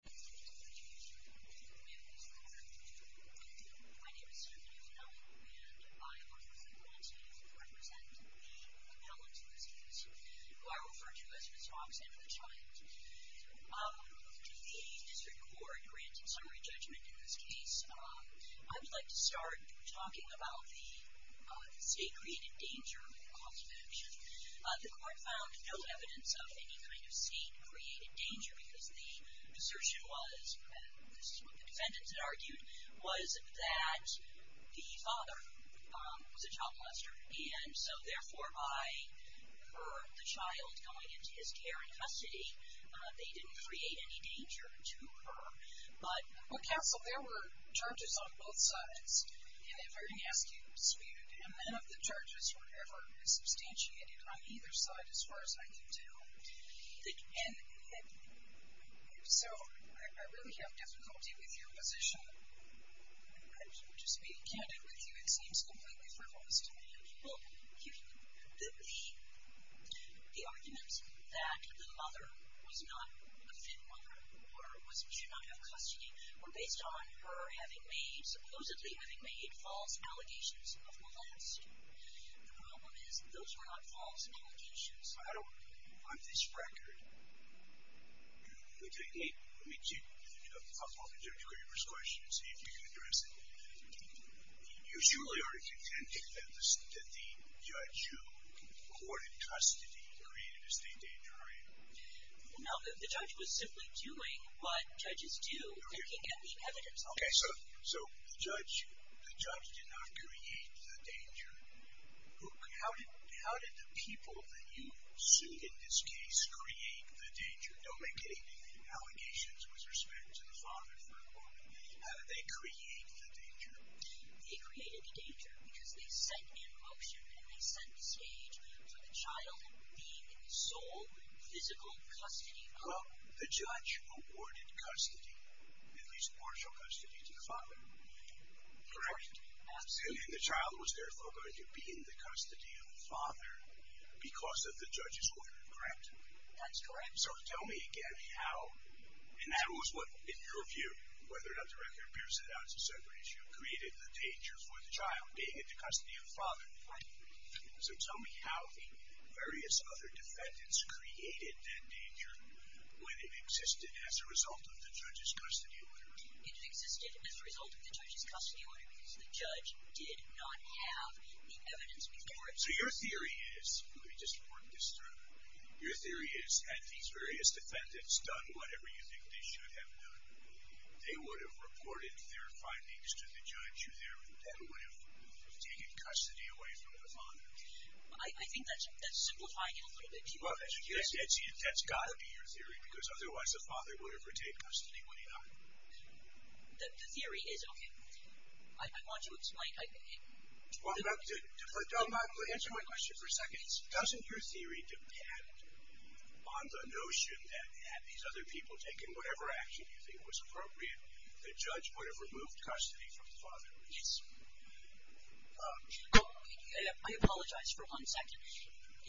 My name is Stephanie O'Donnell and I work with the Planned Parenthood to represent the Kamelans in this case, who are referred to as Ms. Fox and her child. The District Court granted summary judgment in this case. I would like to start talking about the state-created danger with the cost of action. The court found no evidence of any kind of state-created danger because the assertion was, and this is what the defendants had argued, was that the father was a child molester. And so therefore, by her, the child, going into his care in custody, they didn't create any danger to her. But, counsel, there were charges on both sides. And if I can ask you, sweetheart, how many of the charges were ever substantiated on either side, as far as I can tell? And so I really have difficulty with your position. To be candid with you, it seems completely frivolous to me. Well, the arguments that the mother was not a fit mother or was not in custody were based on her having been supposedly having made false allegations of molesting. The problem is, those were not false allegations. I don't, on this record, let me, I'll open it up to whoever's question and see if you can address it. You surely are contending that the judge who awarded custody created a state danger, are you? No, the judge was simply doing what judges do, looking at the evidence. Okay, so the judge did not create the danger. How did the people that you sued in this case create the danger? Don't make any allegations with respect to the father for a moment. How did they create the danger? They created the danger because they sent in motion and they set the stage for the child being in sole physical custody. Well, the judge awarded custody, at least partial custody to the father. Correct. Absolutely. And the child was therefore going to be in the custody of the father because of the judge's order, correct? That's correct. So tell me again how, and that was what, in your view, whether or not the record bears it out as a separate issue, created the danger for the child being in the custody of the father. Right. So tell me how the various other defendants created that danger when it existed as a result of the judge's custody order. It existed as a result of the judge's custody order because the judge did not have the evidence before him. So your theory is, let me just work this through, your theory is had these various defendants done whatever you think they should have done, they would have reported their findings to the judge who would have taken custody away from the father. I think that's simplifying it a little bit too much. Well, that's got to be your theory because otherwise the father would have retained custody, wouldn't he not? The theory is, okay, I want to explain. Answer my question for a second. Doesn't your theory depend on the notion that had these other people taken whatever action you think was appropriate, the judge would have removed custody from the father? Yes. I apologize for one second.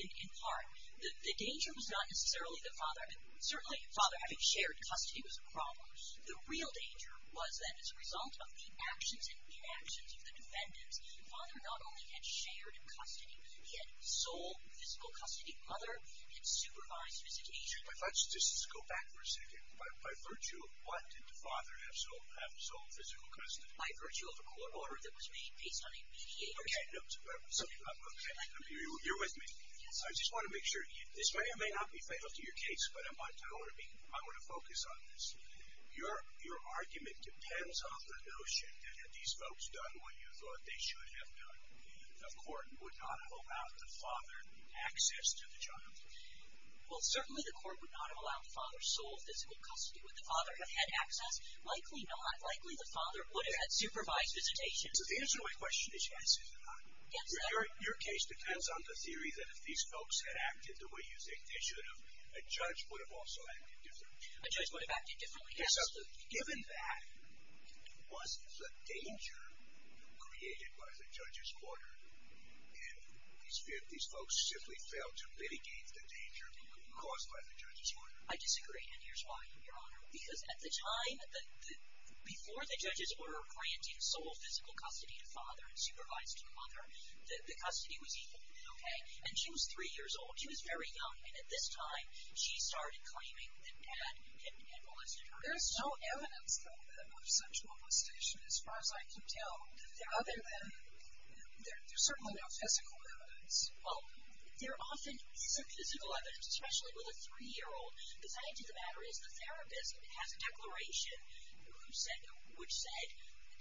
In part, the danger was not necessarily the father. Certainly the father having shared custody was a problem. The real danger was that as a result of the actions and inactions of the defendants, the father not only had shared custody, he had sole physical custody. Mother had supervised visitation. Let's just go back for a second. By virtue of what did the father have sole physical custody? By virtue of a court order that was made based on a mediation. Okay. You're with me. I just want to make sure. This may or may not be fatal to your case, but I want to focus on this. Your argument depends on the notion that had these folks done what you thought they should have done, the court would not have allowed the father access to the child. Well, certainly the court would not have allowed the father sole physical custody. Would the father have had access? Likely not. Likely the father would have had supervised visitation. So the answer to my question is yes, is it not? Yes. Your case depends on the theory that if these folks had acted the way you think they should have, a judge would have also acted differently. A judge would have acted differently? Yes, absolutely. Given that, was the danger created by the judge's order if these folks simply failed to mitigate the danger caused by the judge's order? I disagree, and here's why, Your Honor. Because at the time before the judge's order granted sole physical custody to father and supervised to mother, the custody was equally okay. And she was three years old. She was very young. And at this time, she started claiming that dad had molested her. There's no evidence, though, of such molestation as far as I can tell. Other than there's certainly no physical evidence. Well, there often is some physical evidence, especially with a three-year-old. The side of the matter is the therapist has a declaration which said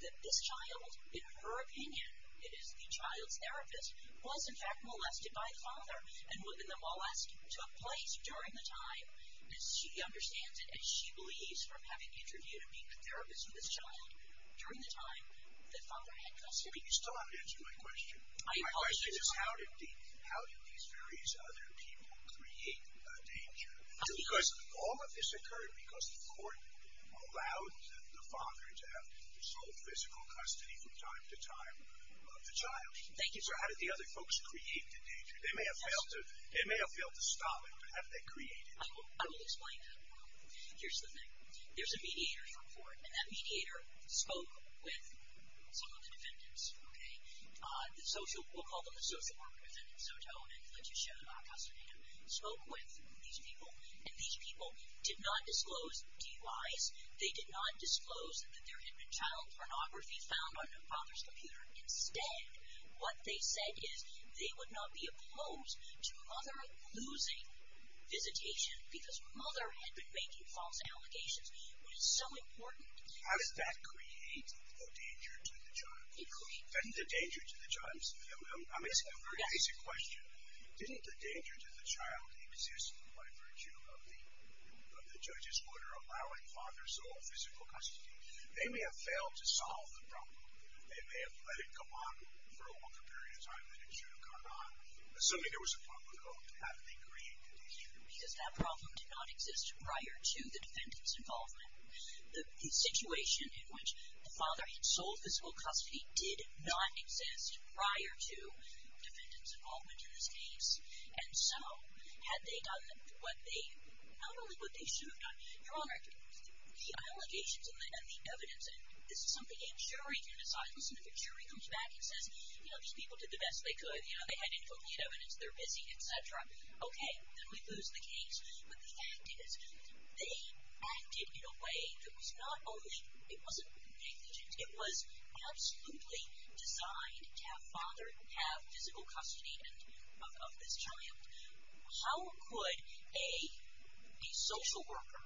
that this child, in her opinion, is the child's therapist, was, in fact, molested by the father. And the molest took place during the time, as she understands it, as she believes from having interviewed a therapist for this child during the time that father had custody. But you still haven't answered my question. My question is how did these various other people create danger? Because all of this occurred because the court allowed the father to have sole physical custody from time to time of the child. Thank you. So how did the other folks create the danger? They may have failed to stop it, but have they created it? I will explain that. Here's the thing. There's a mediator for the court, and that mediator spoke with some of the defendants. Okay? We'll call them the social worker defendants. Sotom and Kletyshev, our custodian, spoke with these people, and these people did not disclose DUIs. They did not disclose that there had been child pornography found on the father's computer. Instead, what they said is they would not be opposed to mother losing visitation because mother had been making false allegations, which is so important. How does that create a danger to the child? It creates. I'm asking a very basic question. Didn't the danger to the child exist by virtue of the judge's order allowing father sole physical custody? They may have failed to solve the problem. They may have let it go on for a longer period of time than it should have gone on. Assuming there was a public vote, how did they create the danger? Because that problem did not exist prior to the defendant's involvement. The situation in which the father had sole physical custody did not exist prior to defendant's involvement in this case. And so, had they done what they, not only what they should have done. You're all right. The allegations and the evidence, and this is something a jury can decide. Listen, if a jury comes back and says, you know, these people did the best they could. You know, they had incomplete evidence. They're busy, et cetera. Okay. Then we lose the case. But the fact is, they acted in a way that was not only, it wasn't negligent. It was absolutely designed to have father have physical custody of this child. How could a social worker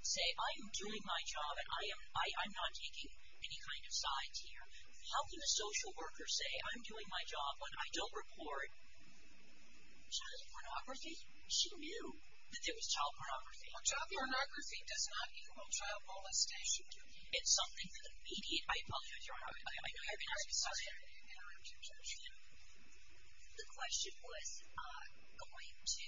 say, I'm doing my job and I'm not taking any kind of sides here. How can a social worker say, I'm doing my job when I don't report child pornography? She knew that there was child pornography. Well, child pornography does not equal child molestation. It's something that the media might believe. I apologize. The question was going to,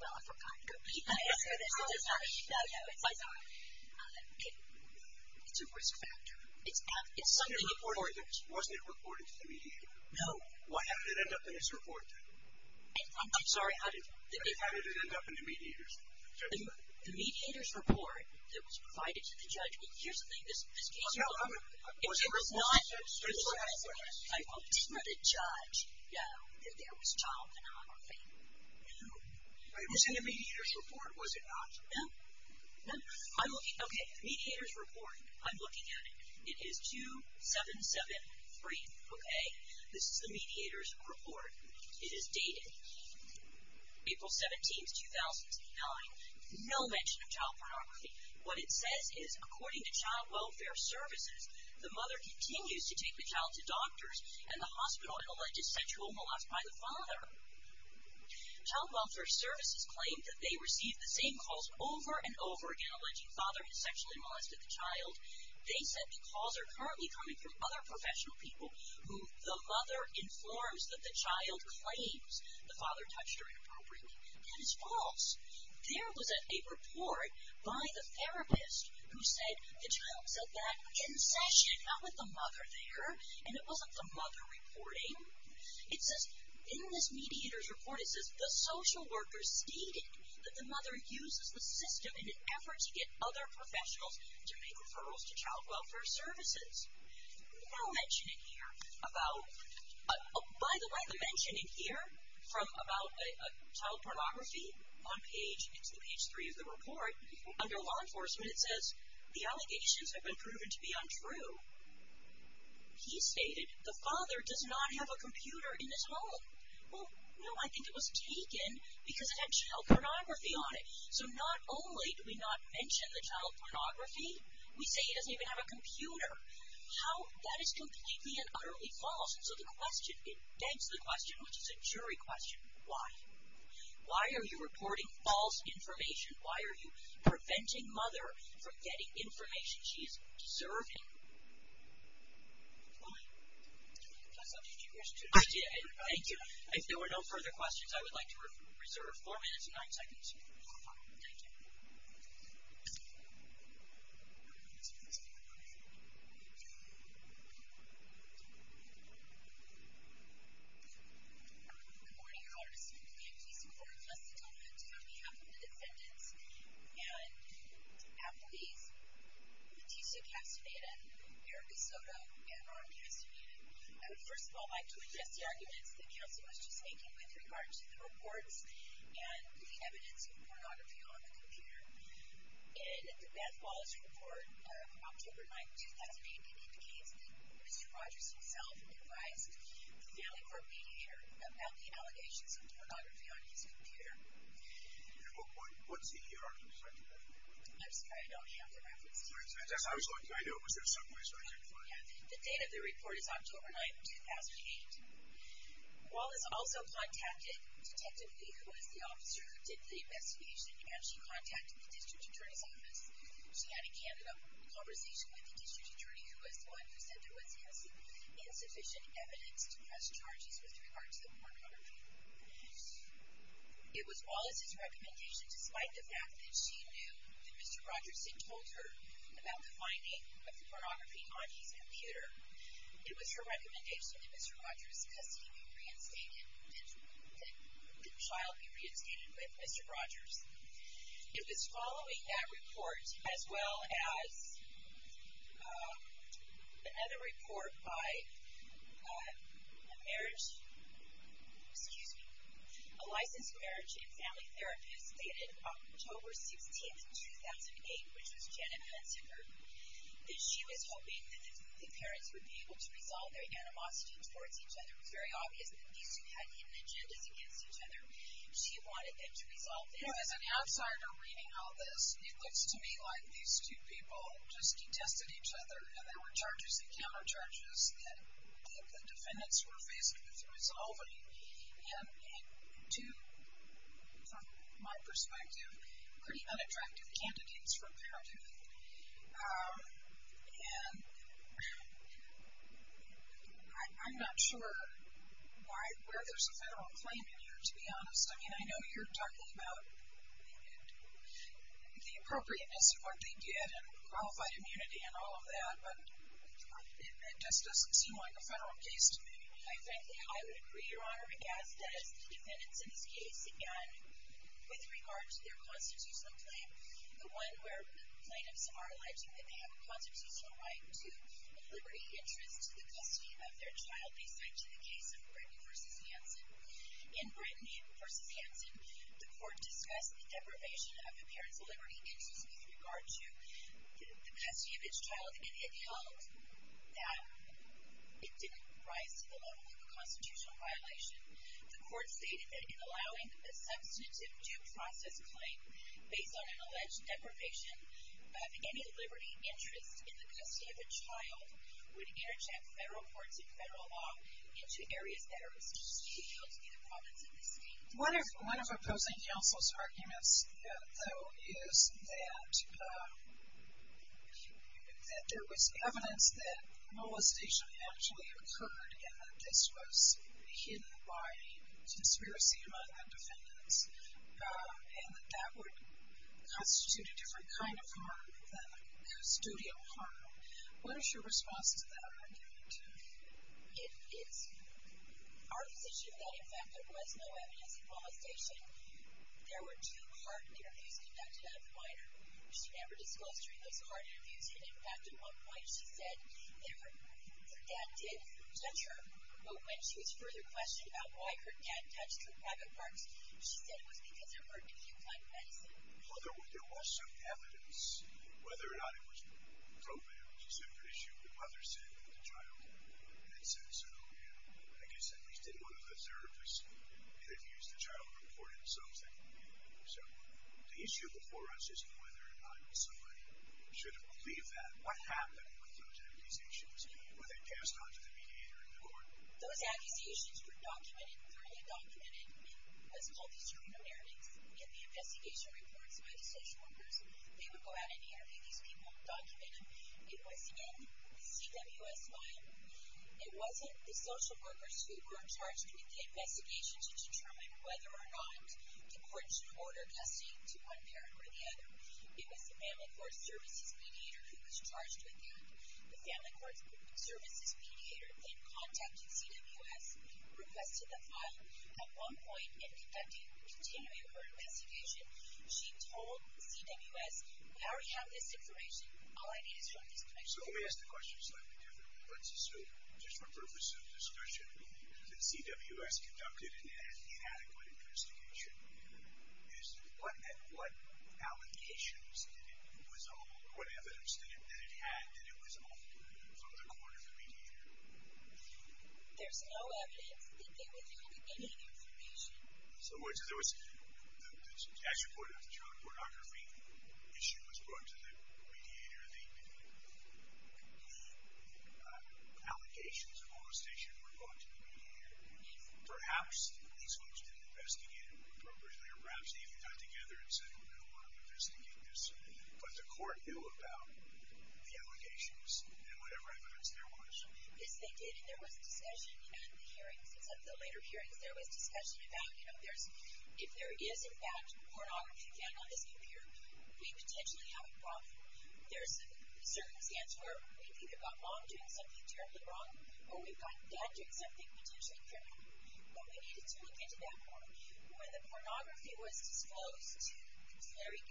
well, I forgot. It's a risk factor. Wasn't it reported to the media? No. Why did it end up in this report then? I'm sorry. How did it end up in the mediators? The mediators report that was provided to the judge. Well, here's the thing. This case was not. It was not. I didn't let a judge know that there was child pornography. No. It was in the mediators report, was it not? No. No. Okay. Mediators report. I'm looking at it. It is 2773. Okay. This is the mediators report. It is dated April 17, 2009. No mention of child pornography. What it says is, according to Child Welfare Services, the mother continues to take the child to doctors, and the hospital alleges sexual molest by the father. Child Welfare Services claimed that they received the same calls over and over again alleging father had sexually molested the child. They said the calls are currently coming from other professional people who the mother informs that the child claims the father touched her inappropriately. That is false. There was a report by the therapist who said the child said that in session, not with the mother there, and it wasn't the mother reporting. It says in this mediators report, it says the social worker stated that the mother uses the system in an effort to get other professionals to make referrals to Child Welfare Services. No mention in here about, by the way, the mention in here from about child pornography on page, it's page three of the report, under law enforcement, it says the allegations have been proven to be untrue. He stated the father does not have a computer in this home. Well, no, I think it was taken because it had child pornography on it. So not only do we not mention the child pornography, we say he doesn't even have a computer. How, that is completely and utterly false. So the question, it begs the question, which is a jury question, why? Why are you reporting false information? Why are you preventing mother from getting information she is deserving? If there were no further questions, I would like to reserve four minutes and nine seconds. Thank you. Good morning. I would like to speak on behalf of the defendants and the police. Leticia Castaneda, Erica Soto, and Ron Castaneda. I would first of all like to address the arguments the counsel was just and the evidence of pornography on the computer. In the Beth Wallace report of October 9th, 2008, it indicates that Mr. Rogers himself advised the family court mediator about the allegations of pornography on his computer. And what's the year on it? I'm sorry, I don't have the reference date. I was going to. I know it was there some way, so I didn't find it. The date of the report is October 9th, 2008. Wallace also contacted Detective Lee, who was the officer who did the investigation, and she contacted the district attorney's office. She had a candid conversation with the district attorney, who was the one who said there was insufficient evidence to press charges with regard to the pornography. It was Wallace's recommendation, despite the fact that she knew that Mr. Rogers had told her about the finding of the pornography on his computer. It was her recommendation that Mr. Rogers' custody be reinstated, that the child be reinstated with Mr. Rogers. It was following that report, as well as the other report by a marriage, excuse me, a licensed marriage and family therapist dated October 16th, 2008, which was Janet Hensinger. She was hoping that the parents would be able to resolve their animosity towards each other. It was very obvious that these two had hidden agendas against each other. She wanted them to resolve their animosity. As an outsider reading all this, it looks to me like these two people just contested each other, and there were charges and countercharges that the defendants were facing with resolving. And two, from my perspective, pretty unattractive candidates for a parent. And I'm not sure where there's a federal claim in here, to be honest. I mean, I know you're talking about the appropriateness of what they did and qualified immunity and all of that, but it just doesn't seem like a federal case to me. Quite frankly, I would agree, Your Honor, because as the defendants in this case, again, with regard to their constitutional claim, the one where plaintiffs are alleging that they have a constitutional right to liberty of interest to the custody of their child, they cite to the case of Britton v. Hansen. In Britton v. Hansen, the court discussed the deprivation of the parent's liberty of interest with regard to the custody of its child, and it held that it didn't rise to the level of a constitutional violation. The court stated that in allowing a substantive due process claim based on an alleged deprivation of any liberty of interest in the custody of a child would interchange federal courts and federal law into areas that are restricted to be held to be the province of the state. One of opposing counsel's arguments, though, is that there was evidence that molestation actually occurred and that this was hidden by conspiracy among the defendants and that that would constitute a different kind of harm than a custodial harm. What is your response to that argument? It is. Our position is that, in fact, there was no evidence of molestation. There were two hard interviews conducted at the minor. She never discussed during those hard interviews, and, in fact, at one point she said that her dad did touch her, but when she was further questioned about why her dad touched her private parts, she said it was because of her acute kind of medicine. Mother, there was some evidence, whether or not it was profane. She said it was an issue of the mother's sitting with the child, and it said so. I guess at least in one of those interviews, the child reported something. The issue before us is whether or not somebody should have believed that. What happened with those accusations? Were they passed on to the mediator in the court? Those accusations were documented, thoroughly documented. It was called the screener narratives. In the investigation reports by the station workers, they would go out and interview these people and document them. It was in the CWS file. It wasn't the social workers who were charged with the investigation to determine whether or not the court should order testing to one parent or the other. It was the family court services mediator who was charged with that. The family court services mediator then contacted CWS, requested the file. At one point, in continuing her investigation, she told CWS, we already have this information. So let me ask the question slightly differently. Let's assume, just for purpose of discussion, that CWS conducted an inadequate investigation. What allegations did it resolve, or what evidence did it have that it was offered from the court of the mediator? There's no evidence that they withholded any information. So there was, as you pointed out, the child pornography issue was brought to the mediator. The allegations of all this issue were brought to the mediator. Perhaps these folks didn't investigate it appropriately, or perhaps they even got together and said, oh, no, I want to investigate this. But the court knew about the allegations and whatever evidence there was. Yes, they did. And there was discussion in the hearings, in some of the later hearings, there was discussion about, you know, if there is, in fact, pornography found on this computer, we potentially have a problem. There's certain scans where we've either got mom doing something terribly wrong, or we've got dad doing something potentially criminal. But we needed to look into that more. When the pornography was disclosed to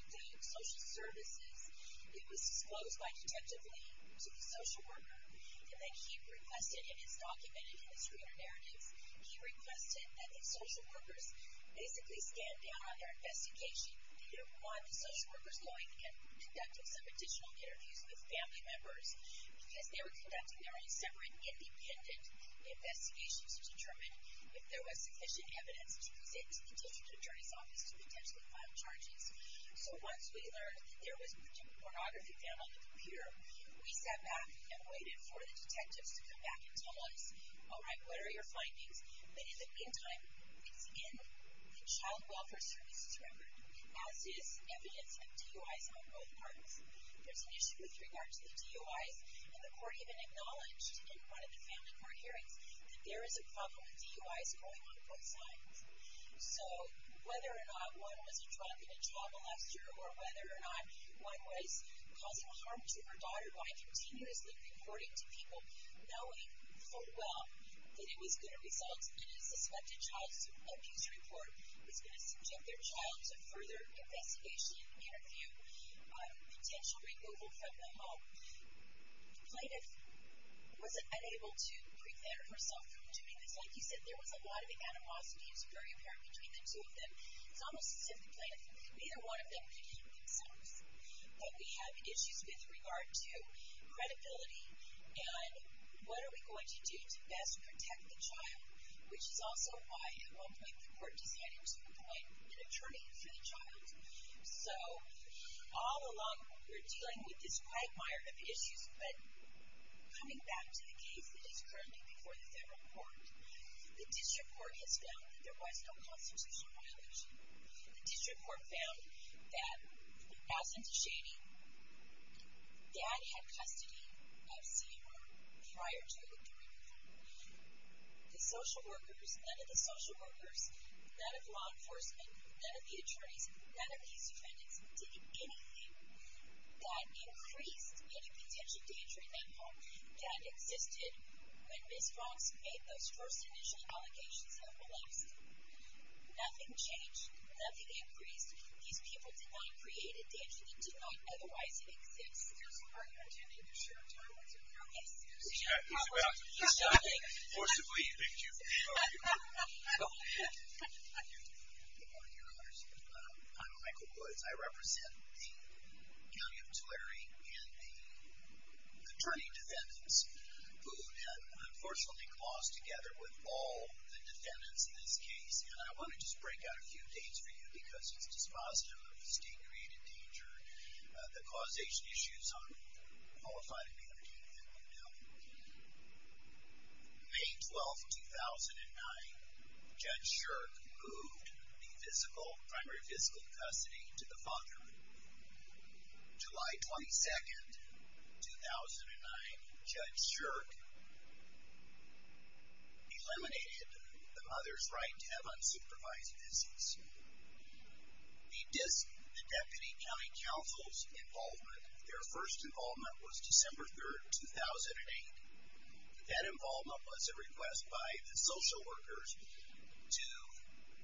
the Social Services, it was disclosed by detective Lee to the social worker, and then he requested, and it's documented in the screener narratives, he requested that the social workers basically stand down on their investigation. They didn't want the social workers going and conducting some additional interviews with family members. Because they were conducting their own separate, independent investigations to determine if there was sufficient evidence to present to the district attorney's office to potentially file charges. So once we learned that there was pornography found on the computer, we sat back and waited for the detectives to come back and tell us, all right, what are your findings? But in the meantime, it's in the Child Welfare Services record, as is evidence of DUIs on both parts. There's an issue with regard to the DUIs, and the court even acknowledged in one of the family court hearings that there is a problem with DUIs going on both sides. So whether or not one was a drug and a child molester, or whether or not one was causing harm to her daughter, we're continuously reporting to people, knowing full well that it was going to result in a suspected child abuse report. It's going to subject their child to further investigation, interview, potential removal from the home. The plaintiff was unable to prevent herself from doing this. Like you said, there was a lot of animosity. It's very apparent between the two of them. It's almost as if the plaintiff, neither one of them could help themselves. But we have issues with regard to credibility, and what are we going to do to best protect the child, which is also why at one point the court decided to appoint an attorney for the child. So all along we're dealing with this quagmire of issues, but coming back to the case that is currently before the federal court, the district court has found that there was no constitutional violation. The district court found that, as in DeShady, Dad had custody of Sierra prior to the rape report. The social workers, none of the social workers, none of law enforcement, none of the attorneys, none of these defendants did anything that increased any potential danger in that home that existed when Ms. Fox made those first initial allegations of molesting. Nothing changed. Nothing increased. These people did not create a danger. They did not otherwise exist. Are you intending to share time with the jury? Yes. He's about to stop. He forcibly picked you for the argument. I'm Michael Woods. I represent the County of Tulare and the attorney defendants who had unfortunately closed together with all the defendants in this case. And I want to just break out a few dates for you because it's dispositive of the state-created danger, the causation issues on qualified immunity that we know. May 12, 2009, Judge Shirk moved the primary physical custody to the father. July 22, 2009, Judge Shirk eliminated the mother's right to have unsupervised visits. The Deputy County Counsel's involvement, their first involvement was December 3, 2008. That involvement was a request by the social workers to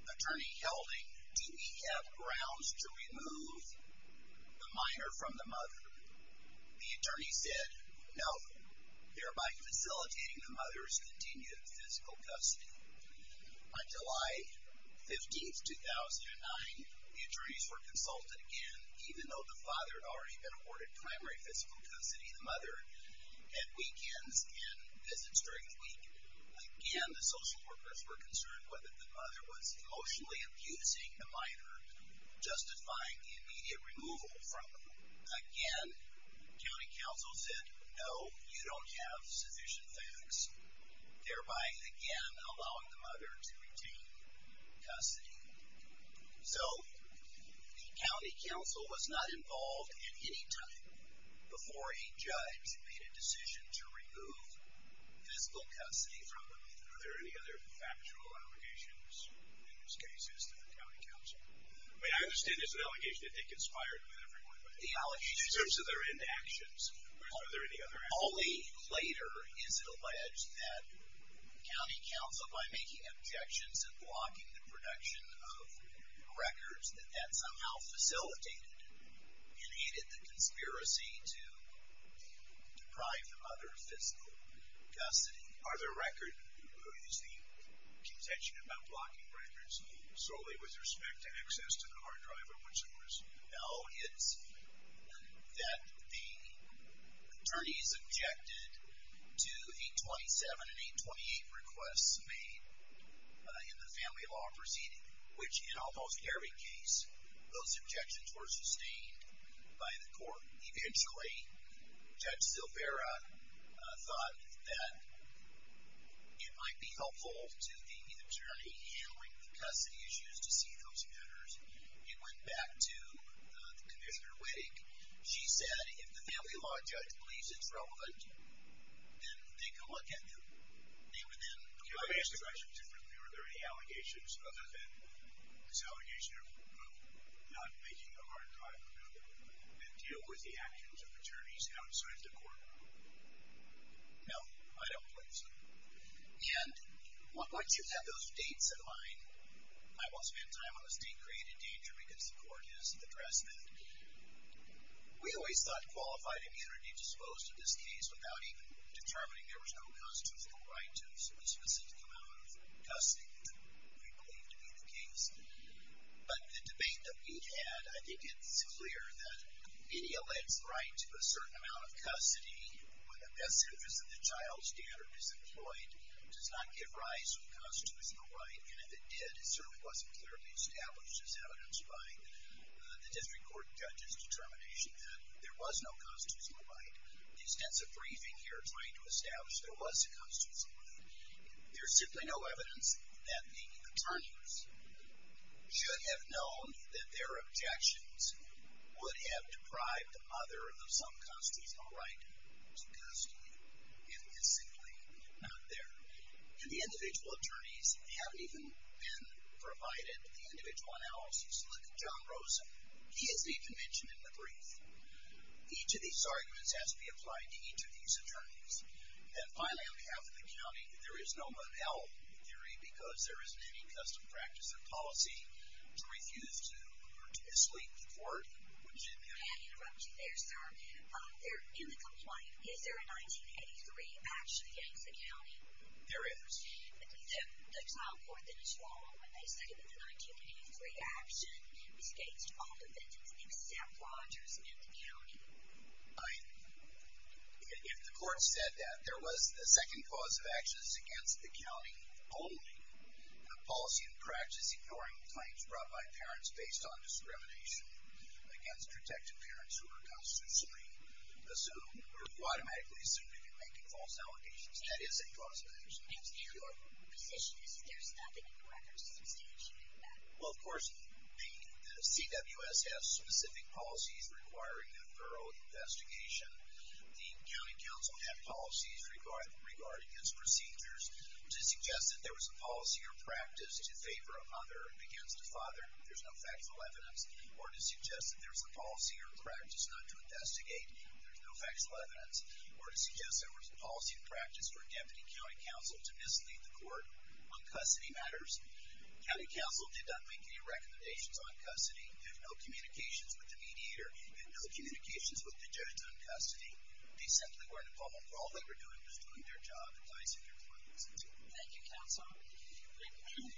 Attorney Helding, do we have grounds to remove the minor from the mother? The attorney said no, thereby facilitating the mother's continued physical custody. On July 15, 2009, the attorneys were consulted again, even though the father had already been awarded primary physical custody, Again, the social workers were concerned whether the mother was emotionally abusing the minor, justifying the immediate removal from her. Again, the County Counsel said no, you don't have sufficient facts, thereby again allowing the mother to continue custody. So, the County Counsel was not involved at any time before a judge made a decision to remove physical custody from the minor. Are there any other factual allegations in this case as to the County Counsel? I mean, I understand it's an allegation that they conspired with everyone, but in terms of their inactions, are there any other allegations? Only later is it alleged that the County Counsel, by making objections and blocking the production of records, that that somehow facilitated and aided the conspiracy to deprive the mother of physical custody. Are the records, is the contention about blocking records solely with respect to access to the hard drive or whatsoever? No, it's that the attorneys objected to 827 and 828 requests made in the family law proceeding, which in almost every case, those objections were sustained by the court. Eventually, Judge Zilvera thought that it might be helpful to the attorney handling the custody issues to see those matters. It went back to the Commissioner Wittig. She said if the family law judge believes it's relevant, then they can look at them. Can I ask a question differently? Are there any allegations other than this allegation of not making a hard drive available and deal with the actions of attorneys outside the court? No, I don't believe so. And once you have those dates in mind, I won't spend time on the state-created danger because the court is the Dressman. We always thought qualified immunity disclosed in this case without even determining there was no constitutional right to a specific amount of custody that we believed to be the case. But the debate that we've had, I think it's clear that it eludes right to a certain amount of custody when the best interest of the child's standard is employed, does not give rise to a constitutional right, and if it did, it certainly wasn't clearly established as evidenced by the district court judge's determination that there was no constitutional right. The extensive briefing here trying to establish there was a constitutional right, there's simply no evidence that the attorneys should have known that their objections would have deprived other of some constitutional right to custody. It is simply not there. And the individual attorneys haven't even been provided the individual analysis. Look at John Rosen. He isn't even mentioned in the brief. Each of these arguments has to be applied to each of these attorneys. And finally, on behalf of the county, there is no monel theory because there isn't any custom practice or policy to refuse to sleep with the court. Would Jim have... May I interrupt you there, sir? In the complaint, is there a 1983 action against the county? There is. The child court that is followed when they say that the 1983 action escapes all defenses except Rogers and the county. If the court said that there was a second cause of action against the county only, a policy and practice ignoring claims brought by parents based on discrimination against protected parents who are constantly assumed or automatically assumed to be making false allegations, that is a cause of action. Your position is that there's nothing in the records to substantiate that? Well, of course, the CWS has specific policies requiring a thorough investigation. The county council had policies regarding its procedures to suggest that there was a policy or practice to favor a mother against a father. There's no factual evidence. Or to suggest that there's a policy or practice not to investigate. There's no factual evidence. Or to suggest there was a policy and practice for a deputy county council to mislead the court on custody matters. The county council did not make any recommendations on custody. There's no communications with the mediator. There's no communications with the judge on custody. They simply weren't involved. All they were doing was doing their job advising their clients. Thank you, counsel.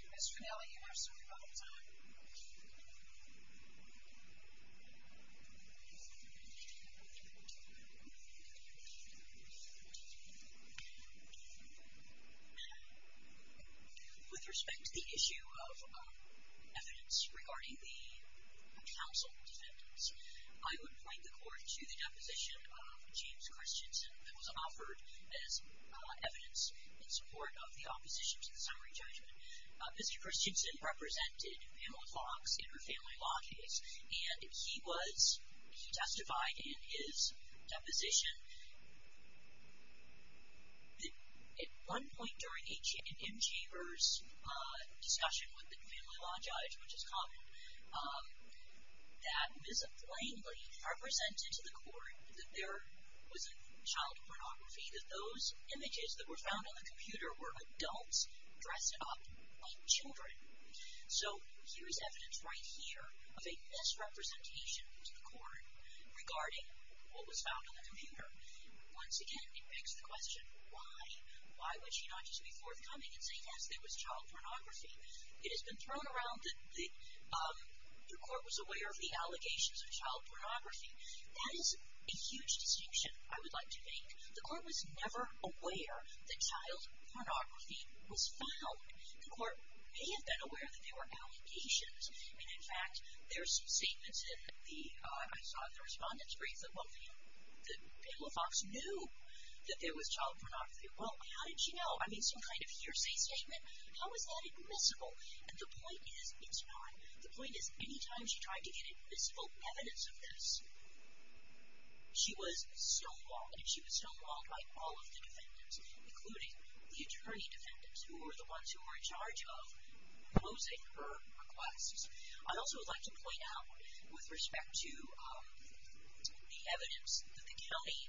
Ms. Finnelli, you have some rebuttal time. Thank you. With respect to the issue of evidence regarding the council defendants, I would point the court to the deposition of James Christensen that was offered as evidence in support of the opposition to the summary judgment. Mr. Christensen represented Pamela Fox in her family law case. And he was, he testified in his deposition that at one point during a, in M. Chambers' discussion with the family law judge, which is common, that Ms. Finnelli represented to the court that there was a child pornography, that those images that were found on the computer were adults dressed up like children. So here is evidence right here of a misrepresentation to the court regarding what was found on the computer. Once again, it begs the question, why? Why would she not just be forthcoming and say, yes, there was child pornography? It has been thrown around that the court was aware of the allegations of child pornography. That is a huge distinction, I would like to make. The court was never aware that child pornography was found. The court may have been aware that there were allegations. And, in fact, there are some statements in the, I saw in the respondent's brief, that Pamela Fox knew that there was child pornography. Well, how did she know? I mean, some kind of hearsay statement? How is that admissible? And the point is, it's not. The point is, any time she tried to get admissible evidence of this, she was stonewalled, and she was stonewalled by all of the defendants, including the attorney defendants, who were the ones who were in charge of posing her requests. I also would like to point out, with respect to the evidence that the county,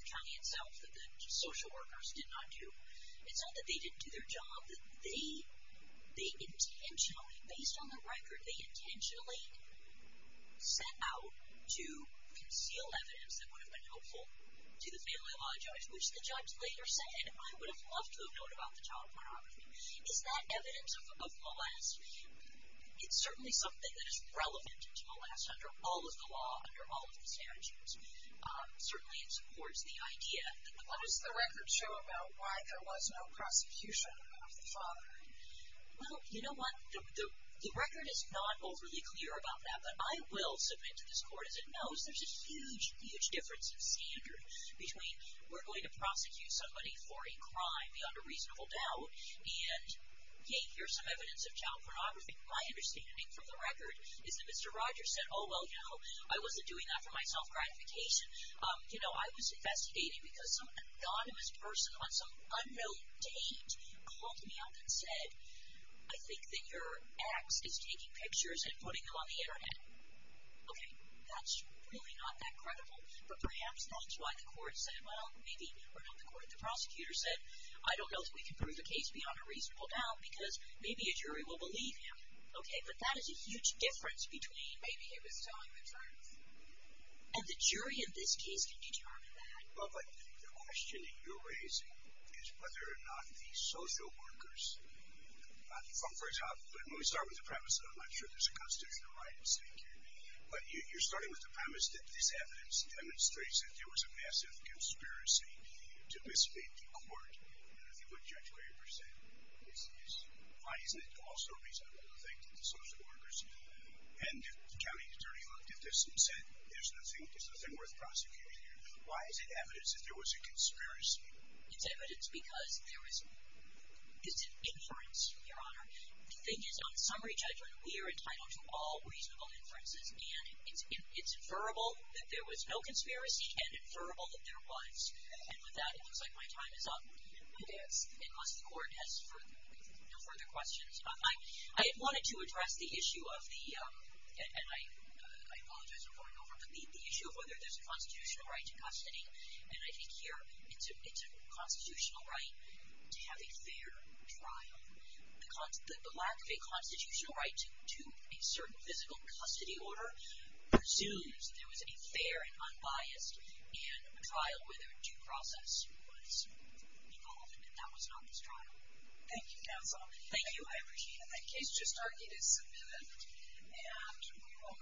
the county itself, that the social workers did not do, it's not that they didn't do their job. It's that they intentionally, based on the record, they intentionally set out to conceal evidence that would have been helpful to the family law judge, which the judge later said, I would have loved to have known about the child pornography. Is that evidence of molest? It's certainly something that is relevant to molest under all of the law, under all of the statutes. Certainly, it supports the idea. What does the record show about why there was no prosecution of the father? Well, you know what? The record is not overly clear about that, but I will submit to this court, as it knows, there's a huge, huge difference in standard between, we're going to prosecute somebody for a crime beyond a reasonable doubt, and, hey, here's some evidence of child pornography. My understanding from the record is that Mr. Rogers said, oh, well, you know, I wasn't doing that for my self-gratification. You know, I was investigating because some anonymous person on some unknown date called me up and said, I think that your ex is taking pictures and putting them on the Internet. Okay, that's really not that credible. But perhaps that's why the court said, well, maybe, or not the court, the prosecutor said, I don't know that we can prove the case beyond a reasonable doubt because maybe a jury will believe him. Okay, but that is a huge difference between maybe he was telling the truth and the jury in this case can determine that. Well, but the question that you're raising is whether or not the social workers, for example, when we start with the premise that I'm not sure there's a constitutional right, but you're starting with the premise that this evidence demonstrates that there was a massive conspiracy to mislead the court. I mean, if you look at what Judge Weber said, why isn't it also reasonable to think that the social workers and the county attorney looked at this and said there's nothing worth prosecuting here? Why is it evidence that there was a conspiracy? It's evidence because there is an inference, Your Honor. The thing is, on summary judgment, we are entitled to all reasonable inferences, and it's inferable that there was no conspiracy and inferable that there was. And with that, it looks like my time is up. It is. And must the court ask no further questions? I wanted to address the issue of the, and I apologize for going over, but the issue of whether there's a constitutional right to custody, and I think here it's a constitutional right to have a fair trial. The lack of a constitutional right to a certain physical custody order presumes there was a fair and unbiased trial where there was due process involved, Thank you, counsel. Thank you. I appreciate it. That case just argued is submitted, and we will